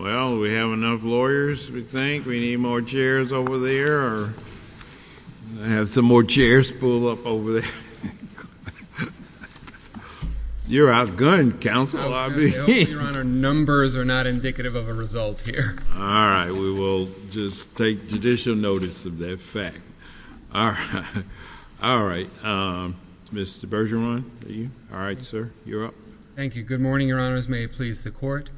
Well, we have enough lawyers, we think. We need more chairs over there or have some more good counsel. Numbers are not indicative of a result here. All right, we will just take judicial notice of that fact. All right. All right. Mr. Bergeron. All right, sir. You're up. Thank you. Good morning, Your Honors. May it please the court.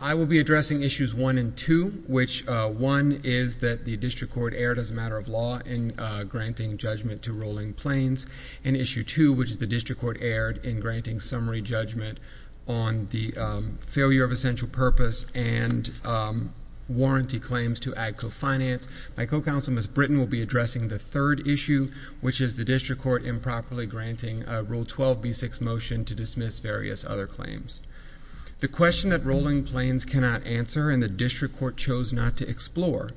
I will be addressing issues one and two, which one is that the district court aired as a matter of law and granting judgment to Rolling Plains and issue two, which is the district court aired in granting summary judgment to Rolling Plains. On the failure of essential purpose and warranty claims to Agco Finance. My co-counsel, Ms. Britton, will be addressing the third issue, which is the district court improperly granting Rule 12b6 motion to dismiss various other claims. The question that Rolling Plains cannot answer and the district court chose not to explore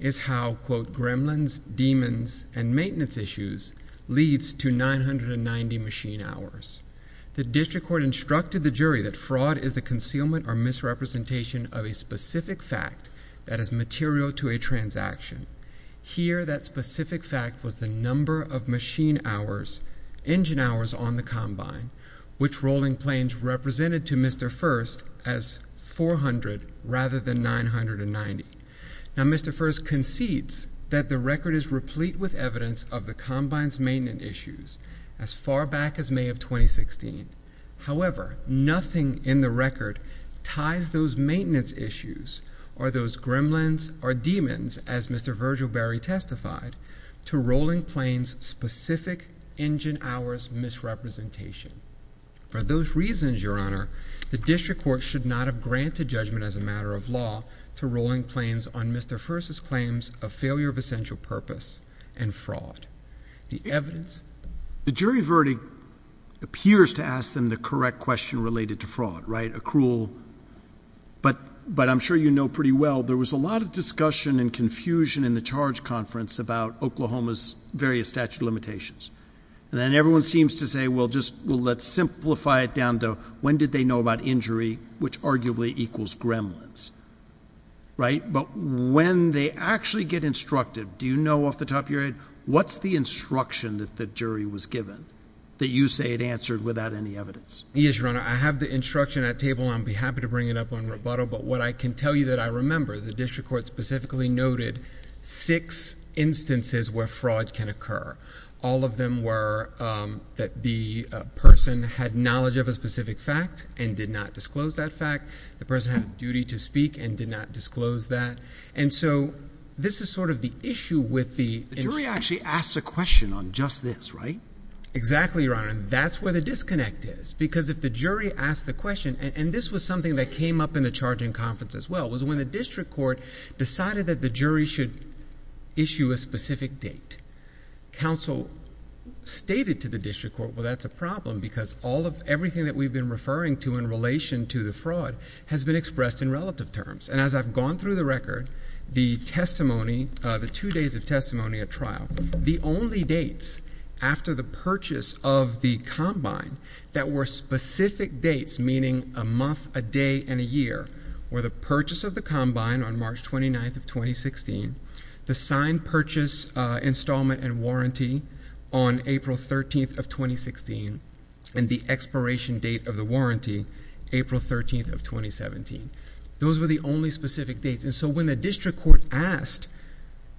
is how, quote, gremlins, demons, and maintenance issues leads to 990 machine hours. The district court instructed the jury that fraud is the concealment or misrepresentation of a specific fact that is material to a transaction. Here, that specific fact was the number of machine hours, engine hours on the combine, which Rolling Plains represented to Mr. First as 400 rather than 990. Now, Mr. First concedes that the record is replete with evidence of the combine's maintenance issues as far back as May of 2016. However, nothing in the record ties those maintenance issues or those gremlins or demons, as Mr. Virgil Berry testified, to Rolling Plains' specific engine hours misrepresentation. For those reasons, Your Honor, the district court should not have granted judgment as a matter of law to Rolling Plains on Mr. First's claims of failure of essential purpose and fraud. The jury verdict appears to ask them the correct question related to fraud, right, accrual. But I'm sure you know pretty well there was a lot of discussion and confusion in the charge conference about Oklahoma's various statute of limitations. And then everyone seems to say, well, let's simplify it down to when did they know about injury, which arguably equals gremlins, right? But when they actually get instructed, do you know off the top of your head what's the instruction that the jury was given that you say it answered without any evidence? Yes, Your Honor. I have the instruction at table. I'd be happy to bring it up on rebuttal. But what I can tell you that I remember is the district court specifically noted six instances where fraud can occur. All of them were that the person had knowledge of a specific fact and did not disclose that fact. The person had a duty to speak and did not disclose that. And so this is sort of the issue with the… The jury actually asks a question on just this, right? Exactly, Your Honor. And that's where the disconnect is. Because if the jury asks the question, and this was something that came up in the charging conference as well, was when the district court decided that the jury should issue a specific date. Council stated to the district court, well, that's a problem because all of everything that we've been referring to in relation to the fraud has been expressed in relative terms. And as I've gone through the record, the testimony, the two days of testimony at trial, the only dates after the purchase of the combine that were specific dates, meaning a month, a day, and a year, were the purchase of the combine on March 29th of 2016, the signed purchase installment and warranty on April 13th of 2016, and the expiration date of the warranty, April 13th of 2017. Those were the only specific dates. And so when the district court asked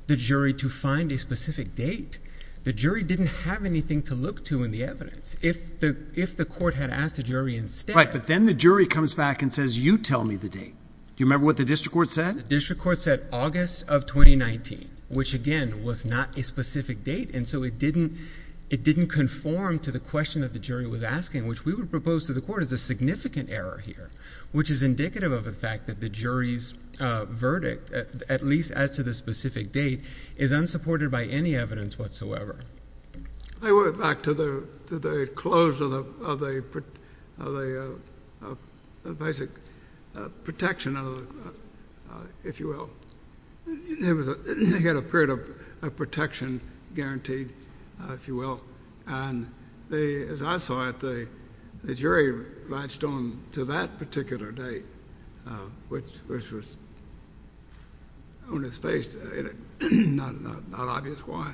the jury to find a specific date, the jury didn't have anything to look to in the evidence. If the court had asked the jury instead… Right, but then the jury comes back and says, you tell me the date. Do you remember what the district court said? The district court said August of 2019, which again was not a specific date. And so it didn't conform to the question that the jury was asking, which we would propose to the court as a significant error here, which is indicative of the fact that the jury's verdict, at least as to the specific date, is unsupported by any evidence whatsoever. They went back to the close of the basic protection, if you will. They had a period of protection guaranteed, if you will. And as I saw it, the jury latched on to that particular date, which was on its face. It's not obvious why.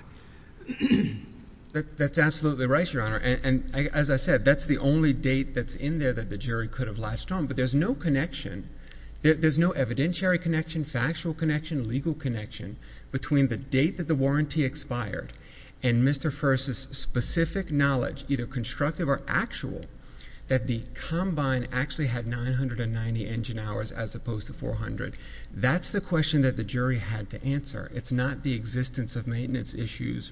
That's absolutely right, Your Honor. And as I said, that's the only date that's in there that the jury could have latched on. But there's no connection. There's no evidentiary connection, factual connection, legal connection between the date that the warranty expired and Mr. First's specific knowledge, either constructive or actual, that the combine actually had 990 engine hours as opposed to 400. That's the question that the jury had to answer. It's not the existence of maintenance issues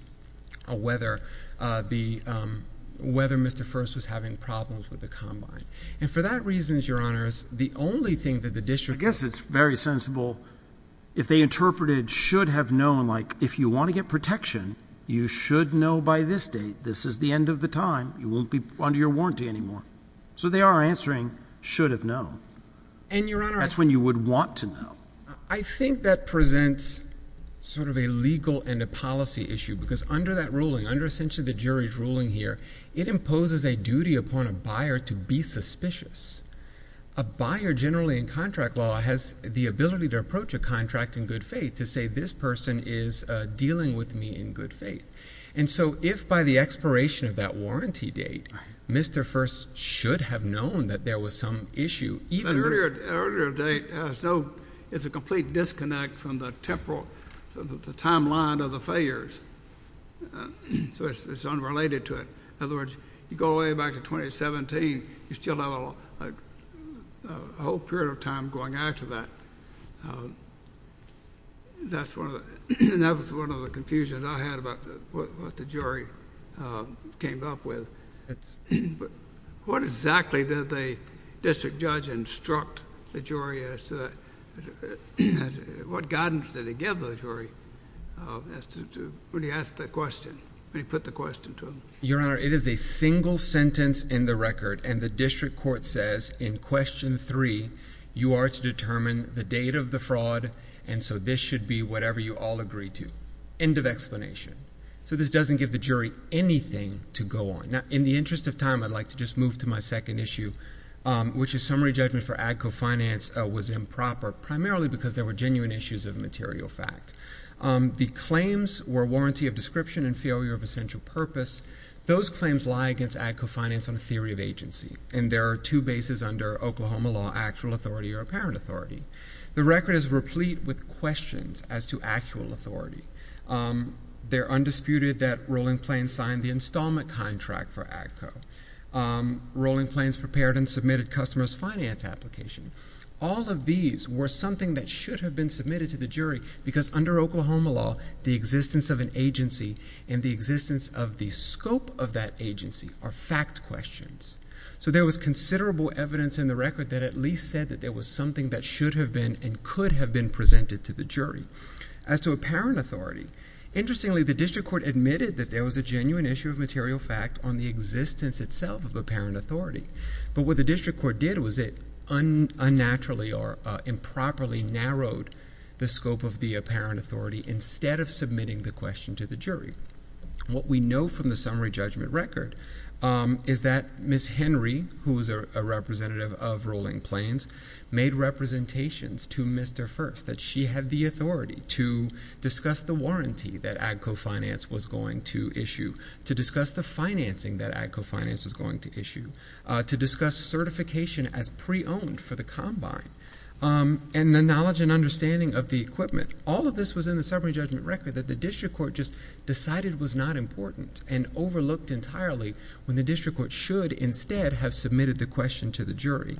or whether Mr. First was having problems with the combine. And for that reason, Your Honor, the only thing that the district— I guess it's very sensible. If they interpreted should have known, like, if you want to get protection, you should know by this date. This is the end of the time. You won't be under your warranty anymore. So they are answering should have known. And, Your Honor— That's when you would want to know. I think that presents sort of a legal and a policy issue, because under that ruling, under essentially the jury's ruling here, it imposes a duty upon a buyer to be suspicious. A buyer generally in contract law has the ability to approach a contract in good faith, to say this person is dealing with me in good faith. And so if by the expiration of that warranty date, Mr. First should have known that there was some issue, even— A whole period of time going after that, that's one of the—and that was one of the confusions I had about what the jury came up with. But what exactly did the district judge instruct the jury as to—what guidance did he give the jury as to—when he asked the question, when he put the question to them? Your Honor, it is a single sentence in the record, and the district court says in Question 3, you are to determine the date of the fraud, and so this should be whatever you all agree to. End of explanation. So this doesn't give the jury anything to go on. Now, in the interest of time, I'd like to just move to my second issue, which is summary judgment for ag co-finance was improper, primarily because there were genuine issues of material fact. The claims were warranty of description and failure of essential purpose. Those claims lie against ag co-finance on a theory of agency, and there are two bases under Oklahoma law, actual authority or apparent authority. The record is replete with questions as to actual authority. They're undisputed that Rolling Plains signed the installment contract for ag co. Rolling Plains prepared and submitted customer's finance application. All of these were something that should have been submitted to the jury because under Oklahoma law, the existence of an agency and the existence of the scope of that agency are fact questions. So there was considerable evidence in the record that at least said that there was something that should have been and could have been presented to the jury. As to apparent authority, interestingly, the district court admitted that there was a genuine issue of material fact on the existence itself of apparent authority. But what the district court did was it unnaturally or improperly narrowed the scope of the apparent authority instead of submitting the question to the jury. What we know from the summary judgment record is that Ms. Henry, who was a representative of Rolling Plains, made representations to Mr. First that she had the authority to discuss the warranty that ag co-finance was going to issue, to discuss the financing that ag co-finance was going to issue, to discuss certification as pre-owned for the combine, and the knowledge and understanding of the equipment. All of this was in the summary judgment record that the district court just decided was not important and overlooked entirely when the district court should instead have submitted the question to the jury.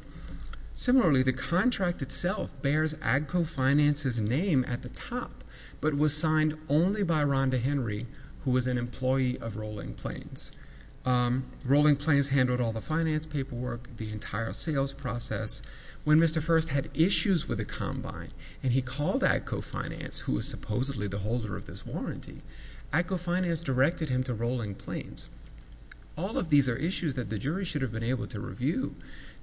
Similarly, the contract itself bears ag co-finance's name at the top, but was signed only by Rhonda Henry, who was an employee of Rolling Plains. Rolling Plains handled all the finance paperwork, the entire sales process. When Mr. First had issues with the combine and he called ag co-finance, who was supposedly the holder of this warranty, ag co-finance directed him to Rolling Plains. All of these are issues that the jury should have been able to review,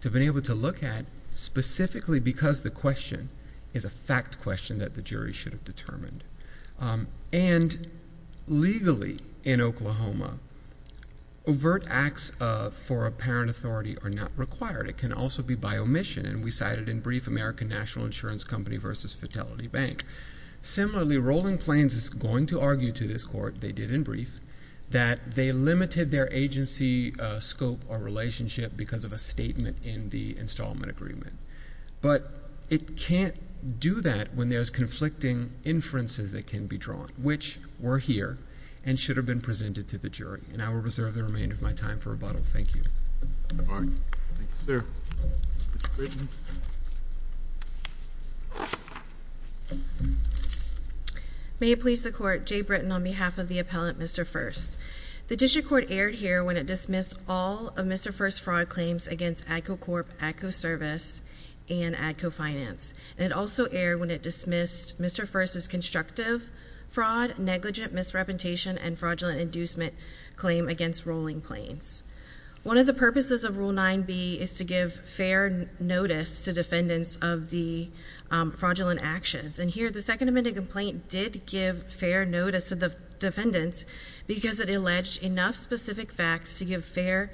to have been able to look at, specifically because the question is a fact question that the jury should have determined. And legally, in Oklahoma, overt acts for apparent authority are not required. It can also be by omission, and we cited in brief American National Insurance Company versus Fatality Bank. Similarly, Rolling Plains is going to argue to this court, they did in brief, that they limited their agency scope or relationship because of a statement in the installment agreement. But it can't do that when there's conflicting inferences that can be drawn, which were here and should have been presented to the jury. And I will reserve the remainder of my time for rebuttal. Thank you. All right. Thank you, sir. Ms. Britton. May it please the court, Jay Britton on behalf of the appellant, Mr. First. The district court erred here when it dismissed all of Mr. First's fraud claims against ag co-corp, ag co-service, and ag co-finance. And it also erred when it dismissed Mr. First's constructive fraud, negligent misrepresentation, and fraudulent inducement claim against Rolling Plains. One of the purposes of Rule 9b is to give fair notice to defendants of the fraudulent actions. And here, the Second Amendment complaint did give fair notice to the defendants because it alleged enough specific facts to give fair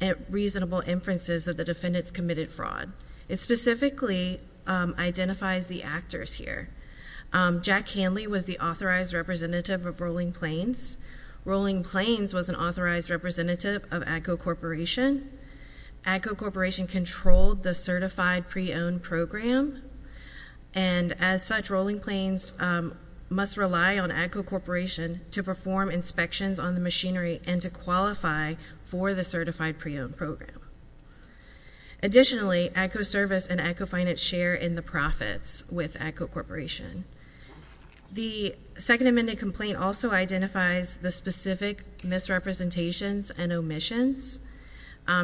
and reasonable inferences that the defendants committed fraud. It specifically identifies the actors here. Jack Hanley was the authorized representative of Rolling Plains. Rolling Plains was an authorized representative of ag co-corporation. Ag co-corporation controlled the certified pre-owned program. And as such, Rolling Plains must rely on ag co-corporation to perform inspections on the machinery and to qualify for the certified pre-owned program. Additionally, ag co-service and ag co-finance share in the profits with ag co-corporation. The Second Amendment complaint also identifies the specific misrepresentations and omissions.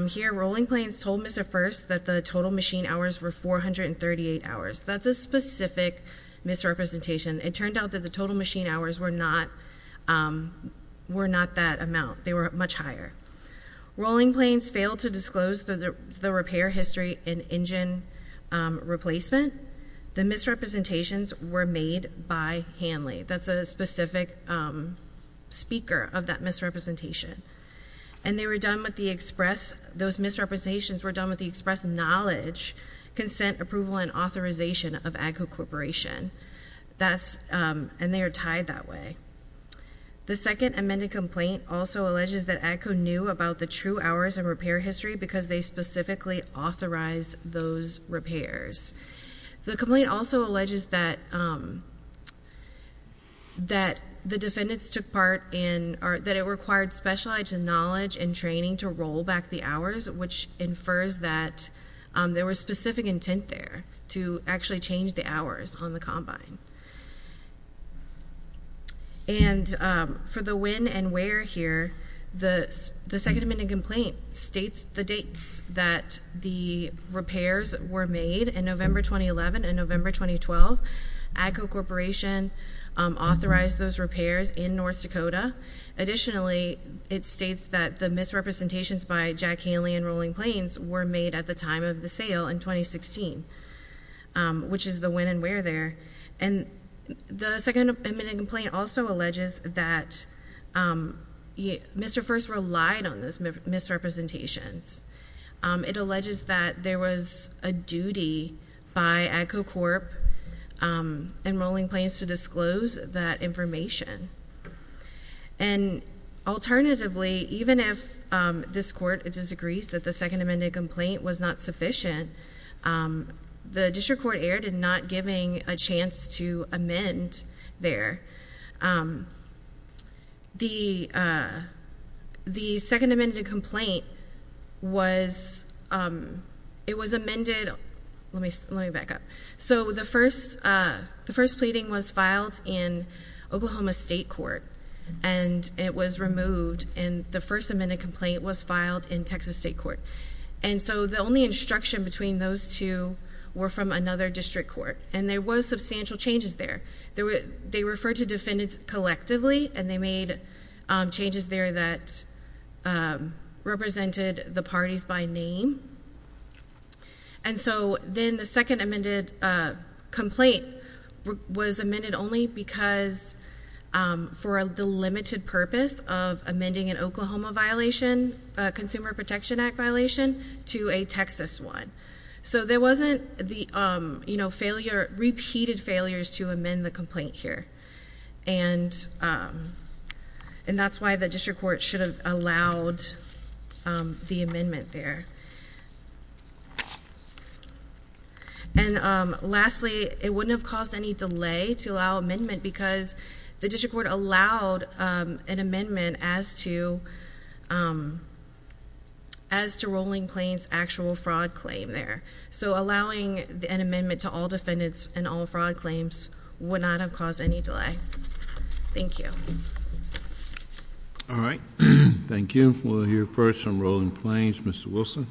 Here, Rolling Plains told Mr. First that the total machine hours were 438 hours. That's a specific misrepresentation. It turned out that the total machine hours were not that amount. They were much higher. Rolling Plains failed to disclose the repair history and engine replacement. The misrepresentations were made by Hanley. That's a specific speaker of that misrepresentation. And they were done with the express—those misrepresentations were done with the express knowledge, consent, approval, and authorization of ag co-corporation. And they are tied that way. The Second Amendment complaint also alleges that ag co. knew about the true hours and repair history because they specifically authorized those repairs. The complaint also alleges that the defendants took part in—that it required specialized knowledge and training to roll back the hours, which infers that there was specific intent there to actually change the hours on the combine. And for the when and where here, the Second Amendment complaint states the dates that the repairs were made in November 2011 and November 2012. Ag co-corporation authorized those repairs in North Dakota. Additionally, it states that the misrepresentations by Jack Hanley and Rolling Plains were made at the time of the sale in 2016, which is the when and where there. And the Second Amendment complaint also alleges that Mr. First relied on those misrepresentations. It alleges that there was a duty by ag co-corp and Rolling Plains to disclose that information. And alternatively, even if this court disagrees that the Second Amendment complaint was not sufficient, the district court erred in not giving a chance to amend there. The Second Amendment complaint was—it was amended—let me back up. So the first pleading was filed in Oklahoma State Court, and it was removed, and the First Amendment complaint was filed in Texas State Court. And so the only instruction between those two were from another district court, and there were substantial changes there. They referred to defendants collectively, and they made changes there that represented the parties by name. And so then the Second Amendment complaint was amended only because for the limited purpose of amending an Oklahoma violation, Consumer Protection Act violation, to a Texas one. So there wasn't the, you know, failure—repeated failures to amend the complaint here. And that's why the district court should have allowed the amendment there. And lastly, it wouldn't have caused any delay to allow amendment because the district court allowed an amendment as to Rolling Plains' actual fraud claim there. So allowing an amendment to all defendants and all fraud claims would not have caused any delay. Thank you. All right. Thank you. We'll hear first from Rolling Plains. Mr. Wilson.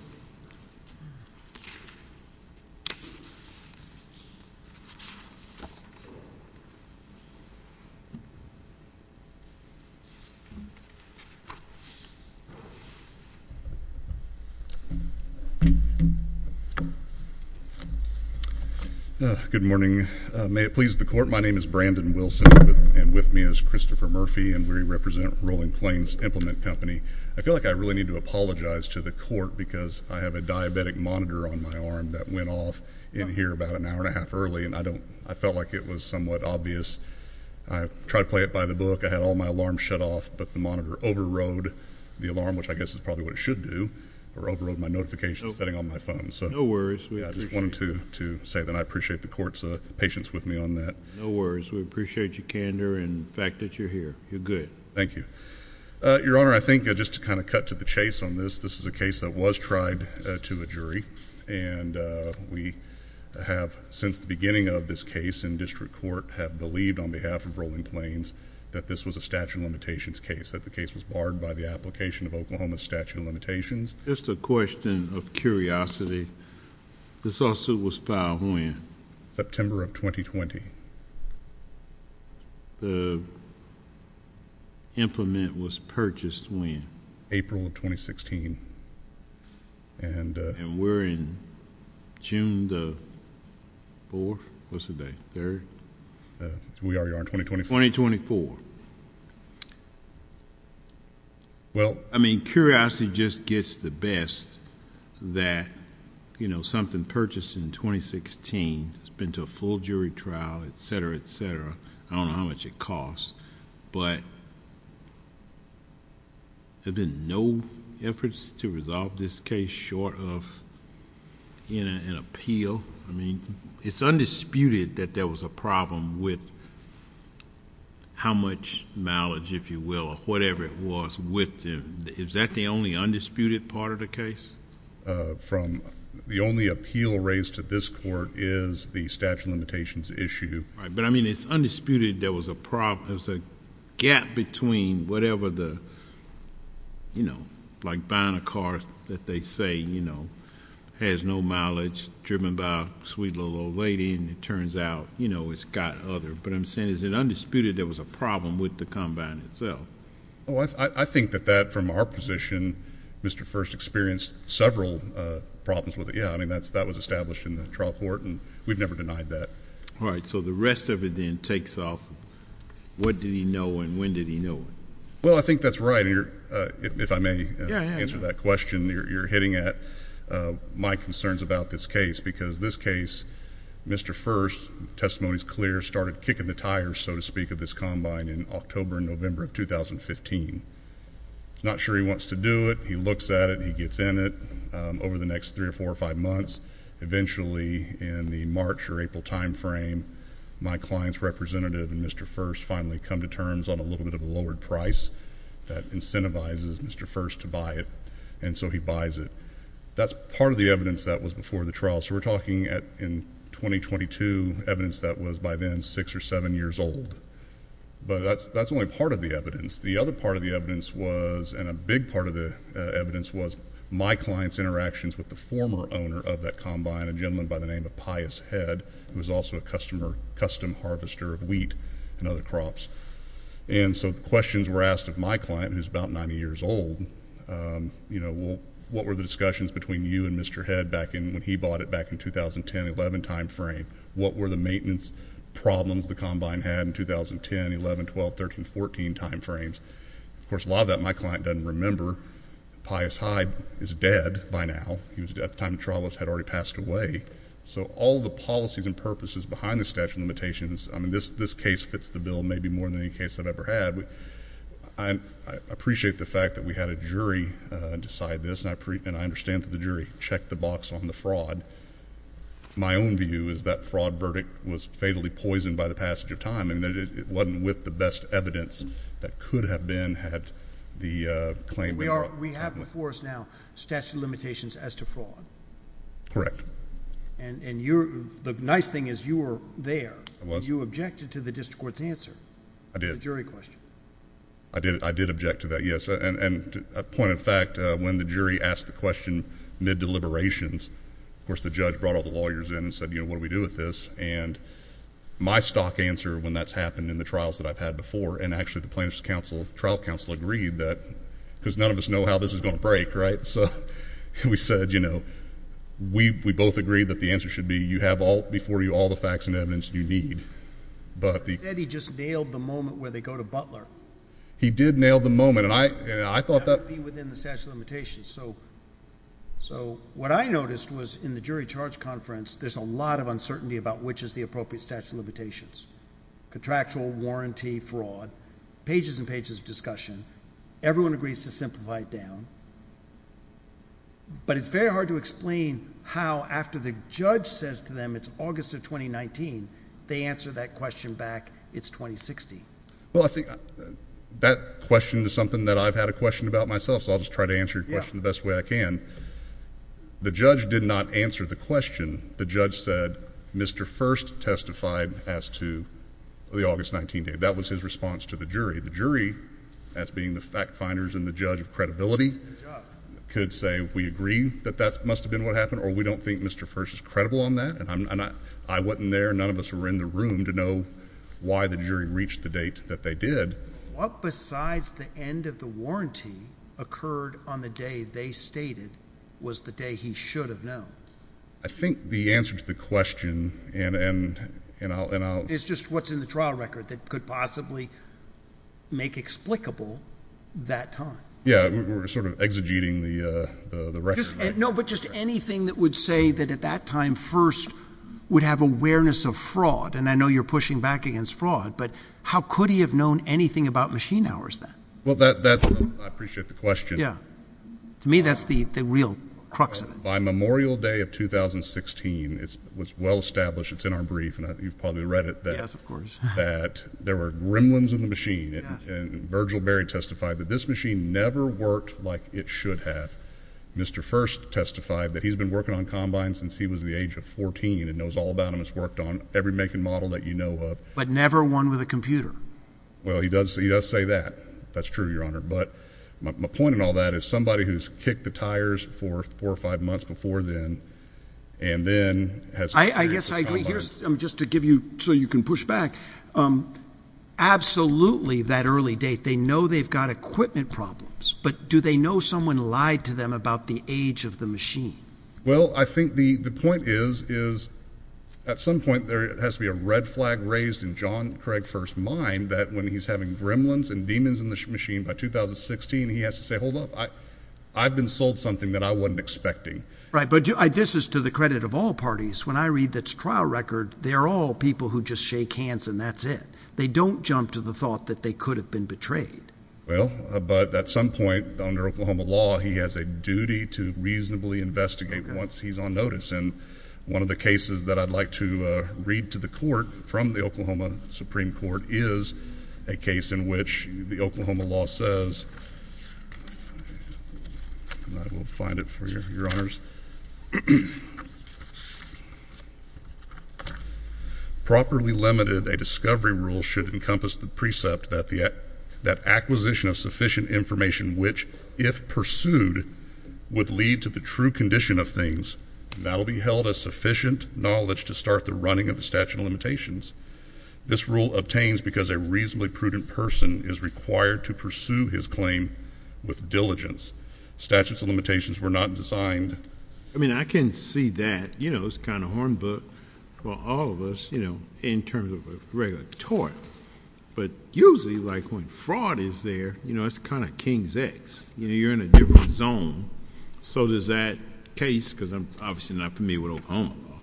Good morning. May it please the Court, my name is Brandon Wilson, and with me is Christopher Murphy, and we represent Rolling Plains Implement Company. I feel like I really need to apologize to the Court because I have a diabetic monitor on my arm that went off in here about an hour and a half early, and I felt like it was somewhat obvious. I tried to play it by the book. I had all my alarms shut off, but the monitor overrode the alarm, which I guess is probably what it should do, or overrode my notification setting on my phone. So I just wanted to say that I appreciate the Court's patience with me on that. No worries. We appreciate your candor and the fact that you're here. You're good. Thank you. Your Honor, I think just to kind of cut to the chase on this, this is a case that was tried to a jury, and we have, since the beginning of this case in district court, have believed on behalf of Rolling Plains that this was a statute of limitations case, that the case was barred by the application of Oklahoma's statute of limitations. Just a question of curiosity. This lawsuit was filed when? September of 2020. The implement was purchased when? April of 2016. And we're in June the 4th? What's the date? 3rd? We are, Your Honor, 2024. 2024. Well, I mean, curiosity just gets the best that something purchased in 2016, it's been to a full jury trial, et cetera, et cetera. I don't know how much it costs, but there have been no efforts to resolve this case short of an appeal. I mean, it's undisputed that there was a problem with how much mileage, if you will, or whatever it was with them. Is that the only undisputed part of the case? From the only appeal raised to this court is the statute of limitations issue. But, I mean, it's undisputed there was a gap between whatever the, you know, like buying a car that they say, you know, has no mileage, driven by a sweet little old lady, and it turns out, you know, it's got other. But I'm saying is it undisputed there was a problem with the combine itself? Oh, I think that that, from our position, Mr. First experienced several problems with it. Yeah, I mean, that was established in the trial court, and we've never denied that. All right. So the rest of it then takes off. What did he know, and when did he know it? Well, I think that's right. If I may answer that question you're hitting at, my concerns about this case, because this case, Mr. First, testimony is clear, started kicking the tires, so to speak, of this combine in October and November of 2015. He's not sure he wants to do it. He looks at it. He gets in it. Over the next three or four or five months, eventually in the March or April time frame, my client's representative and Mr. First finally come to terms on a little bit of a lowered price that incentivizes Mr. First to buy it, and so he buys it. That's part of the evidence that was before the trial. So we're talking in 2022 evidence that was by then six or seven years old. But that's only part of the evidence. The other part of the evidence was, and a big part of the evidence was my client's interactions with the former owner of that combine, a gentleman by the name of Pius Head, who was also a custom harvester of wheat and other crops. And so the questions were asked of my client, who's about 90 years old, you know, what were the discussions between you and Mr. Head back when he bought it back in 2010-11 time frame? What were the maintenance problems the combine had in 2010-11, 12, 13, 14 time frames? Of course, a lot of that my client doesn't remember. Pius Hyde is dead by now. At the time of the trial, he had already passed away. So all the policies and purposes behind the statute of limitations, I mean, this case fits the bill maybe more than any case I've ever had. I appreciate the fact that we had a jury decide this, and I understand that the jury checked the box on the fraud. My own view is that fraud verdict was fatally poisoned by the passage of time. I mean, it wasn't with the best evidence that could have been had the claim— We have before us now statute of limitations as to fraud. Correct. And the nice thing is you were there. I was. And you objected to the district court's answer. I did. The jury question. I did object to that, yes. And a point of fact, when the jury asked the question mid-deliberations, of course, the judge brought all the lawyers in and said, you know, what do we do with this? And my stock answer when that's happened in the trials that I've had before, and actually the plaintiff's trial counsel agreed that, because none of us know how this is going to break, right? So we said, you know, we both agreed that the answer should be you have before you all the facts and evidence you need. But the— He said he just nailed the moment where they go to Butler. He did nail the moment, and I thought that— That would be within the statute of limitations. So what I noticed was in the jury charge conference, there's a lot of uncertainty about which is the appropriate statute of limitations. Contractual, warranty, fraud. Pages and pages of discussion. Everyone agrees to simplify it down. But it's very hard to explain how after the judge says to them it's August of 2019, they answer that question back, it's 2060. Well, I think that question is something that I've had a question about myself, so I'll just try to answer your question the best way I can. The judge did not answer the question. The judge said Mr. First testified as to the August 19th date. That was his response to the jury. The jury, as being the fact finders and the judge of credibility, could say we agree that that must have been what happened or we don't think Mr. First is credible on that. I wasn't there. None of us were in the room to know why the jury reached the date that they did. What, besides the end of the warranty, occurred on the day they stated was the day he should have known? I think the answer to the question and I'll— It's just what's in the trial record that could possibly make explicable that time. Yeah, we're sort of exegeting the record. No, but just anything that would say that at that time First would have awareness of fraud. And I know you're pushing back against fraud, but how could he have known anything about machine hours then? Well, that's—I appreciate the question. Yeah. To me, that's the real crux of it. By Memorial Day of 2016, it was well established—it's in our brief and you've probably read it— Yes, of course. that there were gremlins in the machine. Yes. And Virgil Berry testified that this machine never worked like it should have. Mr. First testified that he's been working on combines since he was the age of 14 and knows all about them. He's worked on every make and model that you know of. But never one with a computer. Well, he does say that. That's true, Your Honor. But my point in all that is somebody who's kicked the tires for four or five months before then and then has— I guess I agree. Here's—just to give you—so you can push back. Absolutely, that early date, they know they've got equipment problems. But do they know someone lied to them about the age of the machine? Well, I think the point is, is at some point there has to be a red flag raised in John Craig First's mind that when he's having gremlins and demons in the machine by 2016, he has to say, hold up, I've been sold something that I wasn't expecting. Right, but this is to the credit of all parties. When I read the trial record, they are all people who just shake hands and that's it. They don't jump to the thought that they could have been betrayed. Well, but at some point under Oklahoma law, he has a duty to reasonably investigate once he's on notice. And one of the cases that I'd like to read to the court from the Oklahoma Supreme Court is a case in which the Oklahoma law says—I will find it for you, Your Honors. Properly limited, a discovery rule should encompass the precept that acquisition of sufficient information which, if pursued, would lead to the true condition of things, that will be held as sufficient knowledge to start the running of the statute of limitations. This rule obtains because a reasonably prudent person is required to pursue his claim with diligence. Statutes of limitations were not designed— I mean, I can see that. You know, it's kind of a horned book for all of us, you know, in terms of a regular tort. But usually, like, when fraud is there, you know, it's kind of king's eggs. You know, you're in a different zone. So does that case, because I'm obviously not familiar with Oklahoma law,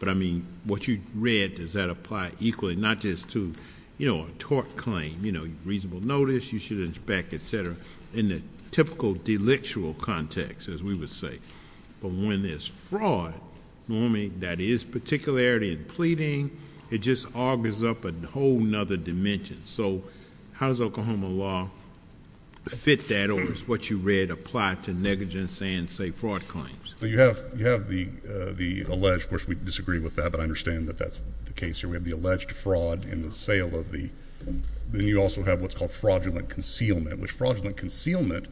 but, I mean, what you read, does that apply equally, not just to, you know, a tort claim? You know, reasonable notice, you should inspect, et cetera, in the typical delictual context, as we would say. But when there's fraud, normally, that is particularity and pleading, it just augurs up a whole other dimension. So how does Oklahoma law fit that, or does what you read apply to negligence and, say, fraud claims? Well, you have the alleged—of course, we disagree with that, but I understand that that's the case here. We have the alleged fraud in the sale of the—then you also have what's called fraudulent concealment, which fraudulent concealment,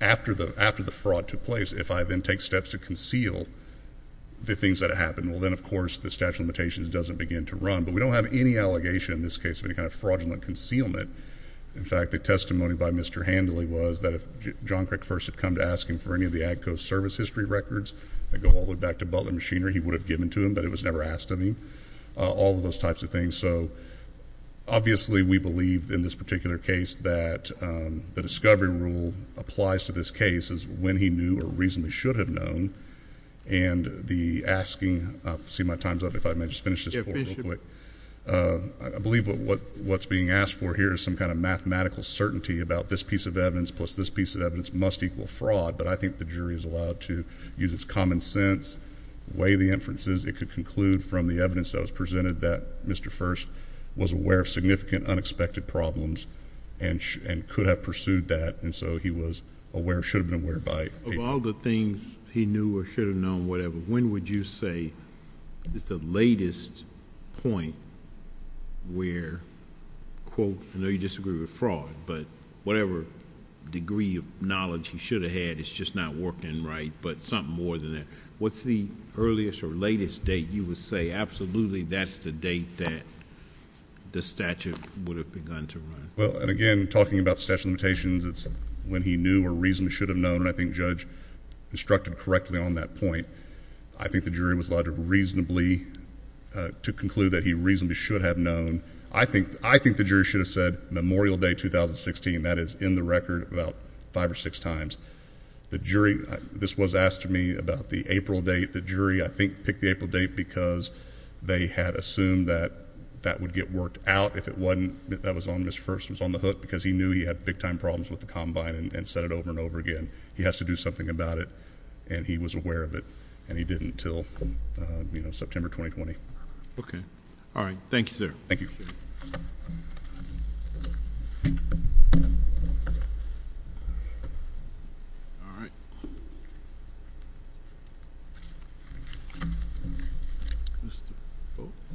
after the fraud took place, if I then take steps to conceal the things that happened, well, then, of course, the statute of limitations doesn't begin to run. But we don't have any allegation in this case of any kind of fraudulent concealment. In fact, the testimony by Mr. Handley was that if John Crick first had come to ask him for any of the Agco service history records that go all the way back to Butler Machinery, he would have given to him, but it was never asked of him, all of those types of things. So, obviously, we believe in this particular case that the discovery rule applies to this case as when he knew or reasonably should have known, and the asking—see, my time's up. If I may just finish this report real quick. Yeah, please do. I believe what's being asked for here is some kind of mathematical certainty about this piece of evidence plus this piece of evidence must equal fraud, but I think the jury is allowed to use its common sense, weigh the inferences. It could conclude from the evidence that was presented that Mr. First was aware of significant unexpected problems and could have pursued that, and so he was aware, should have been aware by— Of all the things he knew or should have known, whatever, when would you say is the latest point where, quote, I know you disagree with fraud, but whatever degree of knowledge he should have had, it's just not working right, but something more than that. What's the earliest or latest date you would say, absolutely, that's the date that the statute would have begun to run? Well, and again, talking about statute of limitations, it's when he knew or reasonably should have known, and I think Judge instructed correctly on that point. I think the jury was allowed to reasonably—to conclude that he reasonably should have known. I think the jury should have said Memorial Day 2016. That is in the record about five or six times. The jury—this was asked to me about the April date. The jury, I think, picked the April date because they had assumed that that would get worked out. If it wasn't, that was on Mr. First. It was on the hook because he knew he had big-time problems with the combine and said it over and over again. He has to do something about it, and he was aware of it, and he didn't until, you know, September 2020. Okay. All right. Thank you, sir. Thank you. All right. All right.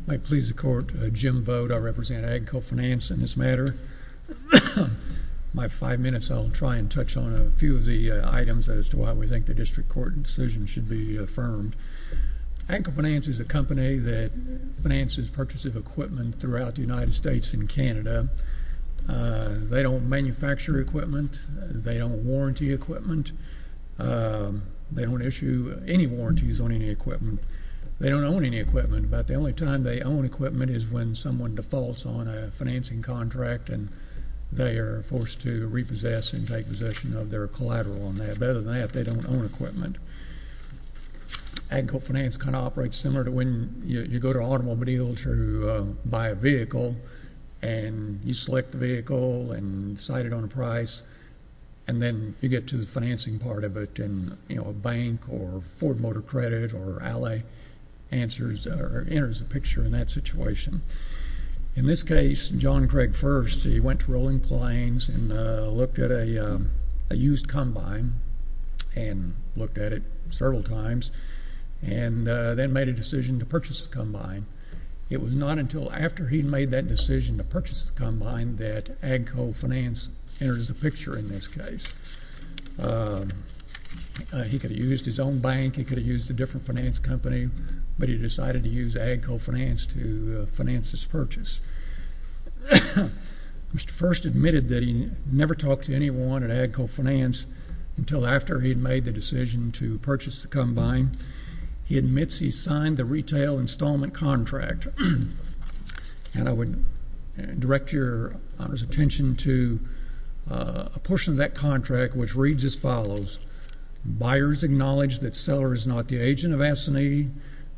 I please the Court. Jim Vogt. I represent Agco Finance in this matter. My five minutes, I'll try and touch on a few of the items as to why we think the district court decision should be affirmed. Agco Finance is a company that finances purchase of equipment throughout the United States and Canada. They don't manufacture equipment. They don't warranty equipment. They don't issue any warranties on any equipment. They don't own any equipment, but the only time they own equipment is when someone defaults on a financing contract and they are forced to repossess and take possession of their collateral on that. Other than that, they don't own equipment. Agco Finance kind of operates similar to when you go to Automobile to buy a vehicle, and you select the vehicle and cite it on a price, and then you get to the financing part of it, and, you know, a bank or Ford Motor Credit or Alley enters a picture in that situation. In this case, John Craig first, he went to Rolling Plains and looked at a used combine and looked at it several times and then made a decision to purchase the combine. It was not until after he had made that decision to purchase the combine that Agco Finance enters the picture in this case. He could have used his own bank. He could have used a different finance company, but he decided to use Agco Finance to finance his purchase. Mr. First admitted that he never talked to anyone at Agco Finance until after he had made the decision to purchase the combine. He admits he signed the retail installment contract, and I would direct Your Honor's attention to a portion of that contract, which reads as follows. Buyers acknowledge that seller is not the agent of ASINI,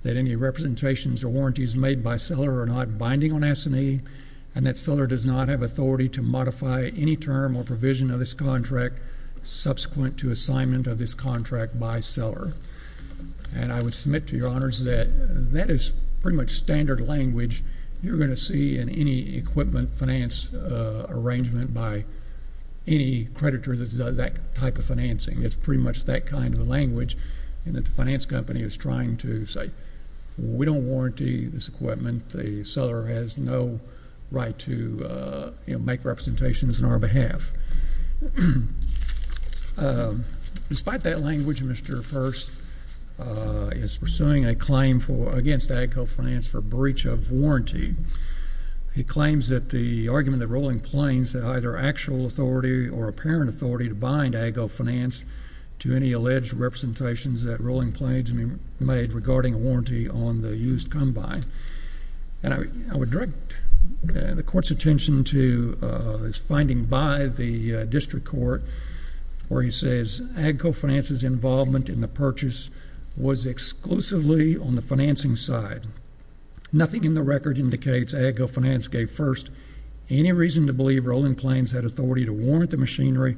that any representations or warranties made by seller are not binding on ASINI, and that seller does not have authority to modify any term or provision of this contract subsequent to assignment of this contract by seller. And I would submit to Your Honors that that is pretty much standard language you're going to see in any equipment finance arrangement by any creditor that does that type of financing. It's pretty much that kind of language in that the finance company is trying to say, we don't warranty this equipment. The seller has no right to make representations on our behalf. Despite that language, Mr. First is pursuing a claim against Agco Finance for breach of warranty. He claims that the argument that Rolling Plains had either actual authority or apparent authority to bind Agco Finance to any alleged representations that Rolling Plains made regarding a warranty on the used combine. And I would direct the Court's attention to this finding by the district court where he says, Agco Finance's involvement in the purchase was exclusively on the financing side. Nothing in the record indicates Agco Finance gave first any reason to believe Rolling Plains had authority to warrant the machinery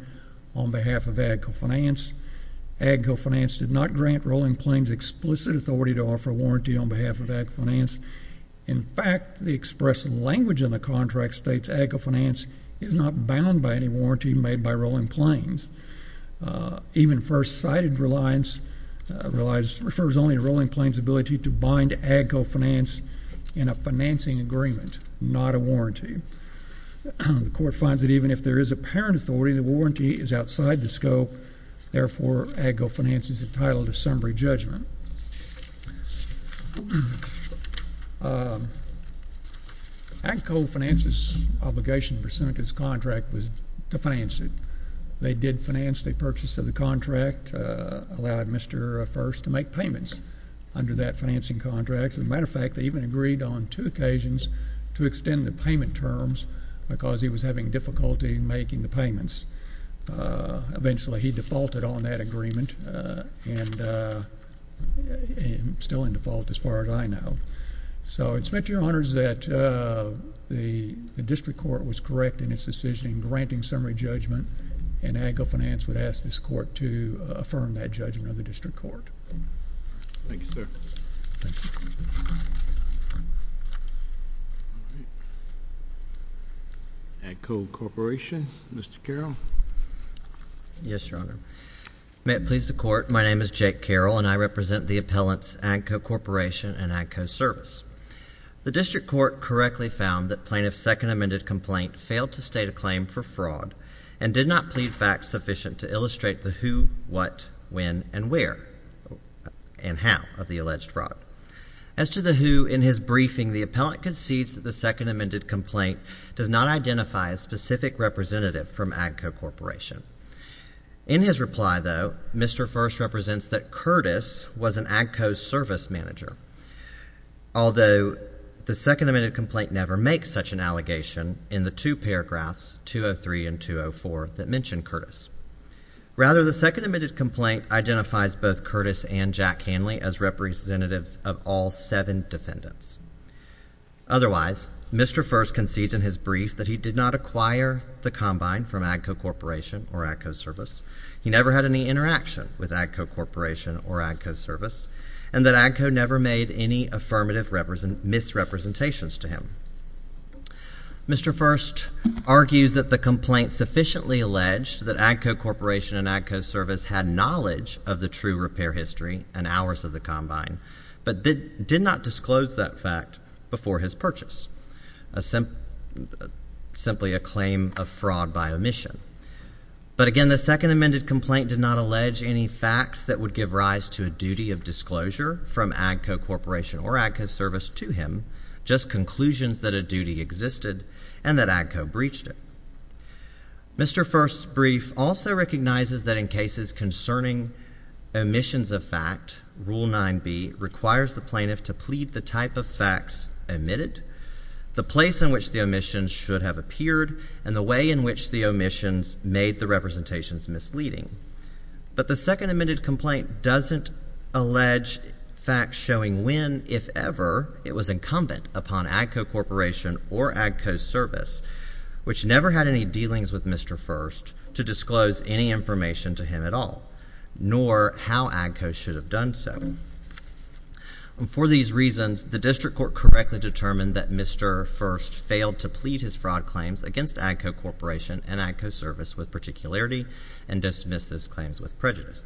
on behalf of Agco Finance. Agco Finance did not grant Rolling Plains explicit authority to offer a warranty on behalf of Agco Finance. In fact, the expressed language in the contract states Agco Finance is not bound by any warranty made by Rolling Plains. Even first-sighted reliance refers only to Rolling Plains' ability to bind Agco Finance in a financing agreement, not a warranty. The Court finds that even if there is apparent authority, the warranty is outside the scope. Therefore, Agco Finance is entitled to summary judgment. Agco Finance's obligation pursuant to this contract was to finance it. They did finance the purchase of the contract, allowed Mr. First to make payments under that financing contract. As a matter of fact, they even agreed on two occasions to extend the payment terms because he was having difficulty making the payments. Eventually, he defaulted on that agreement and is still in default as far as I know. So it is to your honors that the district court was correct in its decision in granting summary judgment, and Agco Finance would ask this Court to affirm that judgment of the district court. Thank you, sir. Agco Corporation, Mr. Carroll. Yes, Your Honor. May it please the Court, my name is Jake Carroll, and I represent the appellants Agco Corporation and Agco Service. The district court correctly found that plaintiff's second amended complaint failed to state a claim for fraud and did not plead facts sufficient to illustrate the who, what, when, and where and how of the alleged fraud. As to the who, in his briefing, the appellant concedes that the second amended complaint does not identify a specific representative from Agco Corporation. In his reply, though, Mr. First represents that Curtis was an Agco Service manager, although the second amended complaint never makes such an allegation in the two paragraphs, 203 and 204, that mention Curtis. Rather, the second amended complaint identifies both Curtis and Jack Hanley as representatives of all seven defendants. Otherwise, Mr. First concedes in his brief that he did not acquire the combine from Agco Corporation or Agco Service, he never had any interaction with Agco Corporation or Agco Service, and that Agco never made any affirmative misrepresentations to him. Mr. First argues that the complaint sufficiently alleged that Agco Corporation and Agco Service had knowledge of the true repair history and hours of the combine, but did not disclose that fact before his purchase, simply a claim of fraud by omission. But again, the second amended complaint did not allege any facts that would give rise to a duty of disclosure from Agco Corporation or Agco Service to him, just conclusions that a duty existed and that Agco breached it. Mr. First's brief also recognizes that in cases concerning omissions of fact, Rule 9b requires the plaintiff to plead the type of facts omitted, the place in which the omissions should have appeared, and the way in which the omissions made the representations misleading. But the second amended complaint doesn't allege facts showing when, if ever, it was incumbent upon Agco Corporation or Agco Service, which never had any dealings with Mr. First, to disclose any information to him at all, nor how Agco should have done so. For these reasons, the District Court correctly determined that Mr. First failed to plead his fraud claims against Agco Corporation and Agco Service with particularity and dismissed those claims with prejudice.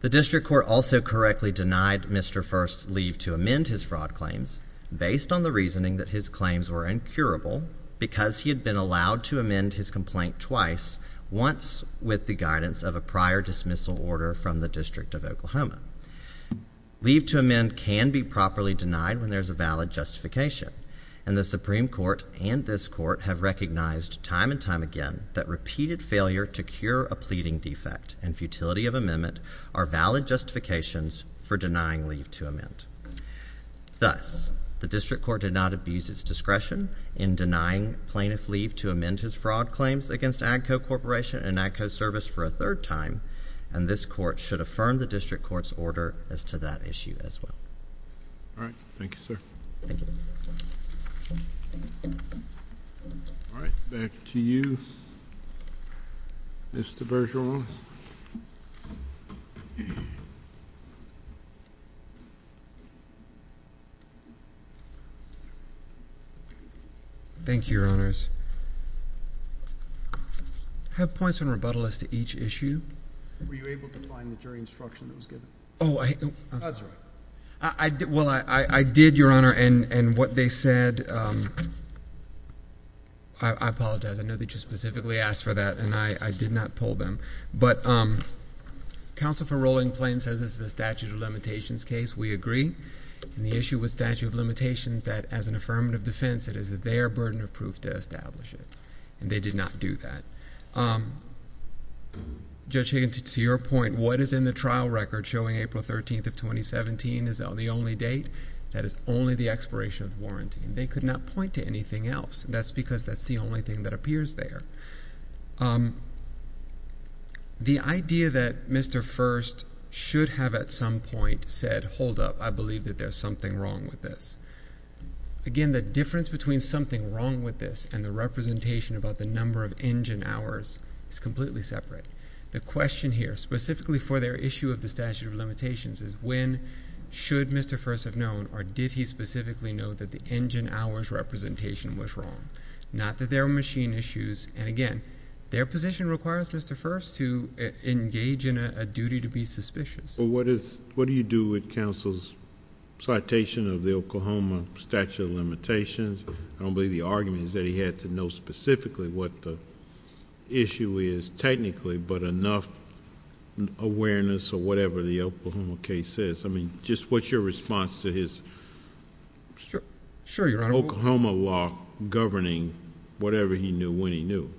The District Court also correctly denied Mr. First's leave to amend his fraud claims based on the reasoning that his claims were incurable because he had been allowed to amend his complaint twice, once with the guidance of a prior dismissal order from the District of Oklahoma. Leave to amend can be properly denied when there is a valid justification, and the Supreme Court and this Court have recognized time and time again that repeated failure to cure a pleading defect and futility of amendment are valid justifications for denying leave to amend. Thus, the District Court did not abuse its discretion in denying plaintiff leave to amend his fraud claims against Agco Corporation and Agco Service for a third time, and this Court should affirm the District Court's order as to that issue as well. All right. Thank you, sir. Thank you. All right. Back to you, Mr. Bergeron. Thank you, Your Honors. I have points of rebuttal as to each issue. Were you able to find the jury instruction that was given? Oh, I did, Your Honor, and what they said, I apologize. I know that you specifically asked for that, and I did not pull them. But Counsel for Rolling Plain says this is a statute of limitations case. We agree, and the issue with statute of limitations that as an affirmative defense, it is their burden of proof to establish it, and they did not do that. Judge Higgins, to your point, what is in the trial record showing April 13th of 2017 is the only date? That is only the expiration of warranty, and they could not point to anything else. That's because that's the only thing that appears there. The idea that Mr. First should have at some point said, hold up, I believe that there's something wrong with this. Again, the difference between something wrong with this and the representation about the number of engine hours is completely separate. The question here, specifically for their issue of the statute of limitations, is when should Mr. First have known, or did he specifically know that the engine hours representation was wrong? Not that there are machine issues, and again, their position requires Mr. First to engage in a duty to be suspicious. What do you do with counsel's citation of the Oklahoma statute of limitations? I don't believe the argument is that he had to know specifically what the issue is technically, but enough awareness of whatever the Oklahoma case is. Just what's your response to his Oklahoma law governing whatever he knew, when he knew?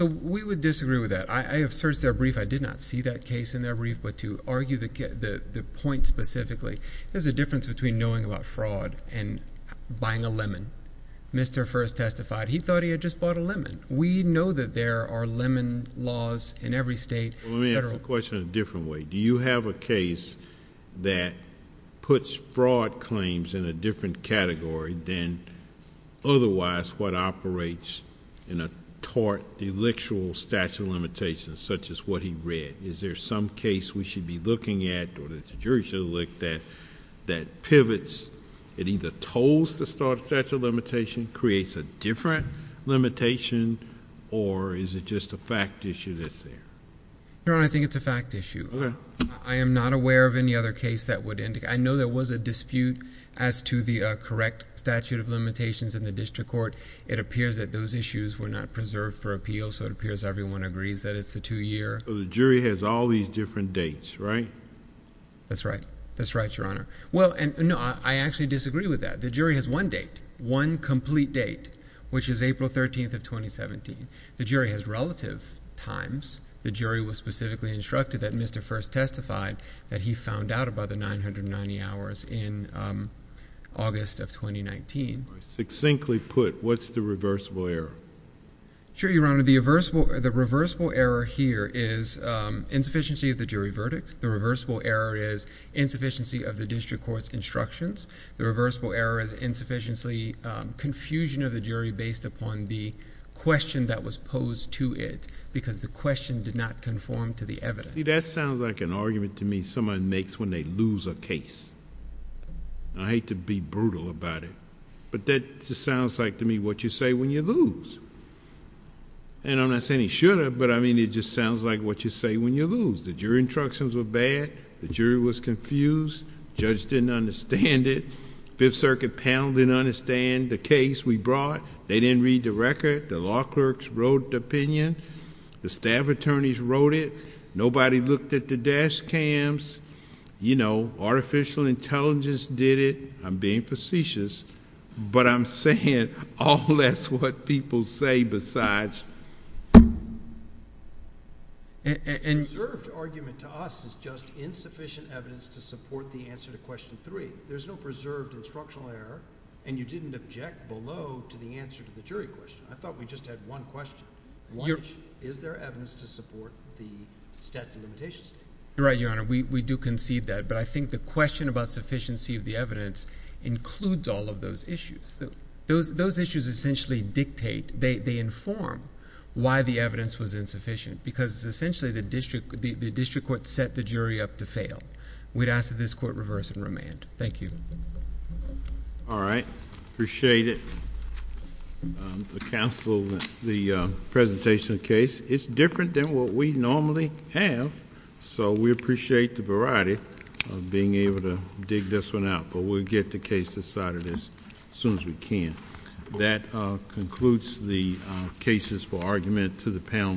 We would disagree with that. I have searched their brief. I did not see that case in their brief, but to argue the point specifically, there's a difference between knowing about fraud and buying a lemon. Mr. First testified he thought he had just bought a lemon. We know that there are lemon laws in every state. Let me ask the question a different way. Do you have a case that puts fraud claims in a different category than otherwise what operates in a tort, delictual statute of limitations, such as what he read? Is there some case we should be looking at, or that the jury should look at, that pivots? It either tolls the statute of limitations, creates a different limitation, or is it just a fact issue that's there? Your Honor, I think it's a fact issue. I am not aware of any other case that would indicate. I know there was a dispute as to the correct statute of limitations in the district court. It appears that those issues were not preserved for appeal, so it appears everyone agrees that it's a two-year. The jury has all these different dates, right? That's right. That's right, Your Honor. I actually disagree with that. The jury has one date, one complete date, which is April 13th of 2017. The jury has relative times. The jury was specifically instructed that Mr. First testified that he found out about the 990 hours in August of 2019. Succinctly put, what's the reversible error? Sure, Your Honor. The reversible error here is insufficiency of the jury verdict. The reversible error is insufficiency of the district court's instructions. The reversible error is insufficiency, confusion of the jury based upon the question that was posed to it because the question did not conform to the evidence. See, that sounds like an argument to me someone makes when they lose a case. I hate to be brutal about it, but that just sounds like to me what you say when you lose. I'm not saying he should have, but it just sounds like what you say when you lose. The jury instructions were bad. The jury was confused. The judge didn't understand it. The Fifth Circuit panel didn't understand the case we brought. They didn't read the record. The law clerks wrote the opinion. The staff attorneys wrote it. Nobody looked at the dash cams. Artificial intelligence did it. I'm being facetious, but I'm saying all that's what people say besides... Preserved argument to us is just insufficient evidence to support the answer to question three. There's no preserved instructional error, and you didn't object below to the answer to the jury question. I thought we just had one question, which is there evidence to support the statute of limitations? You're right, Your Honor. We do concede that, but I think the question about sufficiency of the evidence includes all of those issues. Those issues essentially dictate. They inform why the evidence was insufficient, because essentially the district court set the jury up to fail. We'd ask that this court reverse and remand. Thank you. All right. Appreciate it. The presentation of the case is different than what we normally have, so we appreciate the variety of being able to dig this one out, but we'll get the case decided as soon as we can. That concludes the cases for argument to the panel.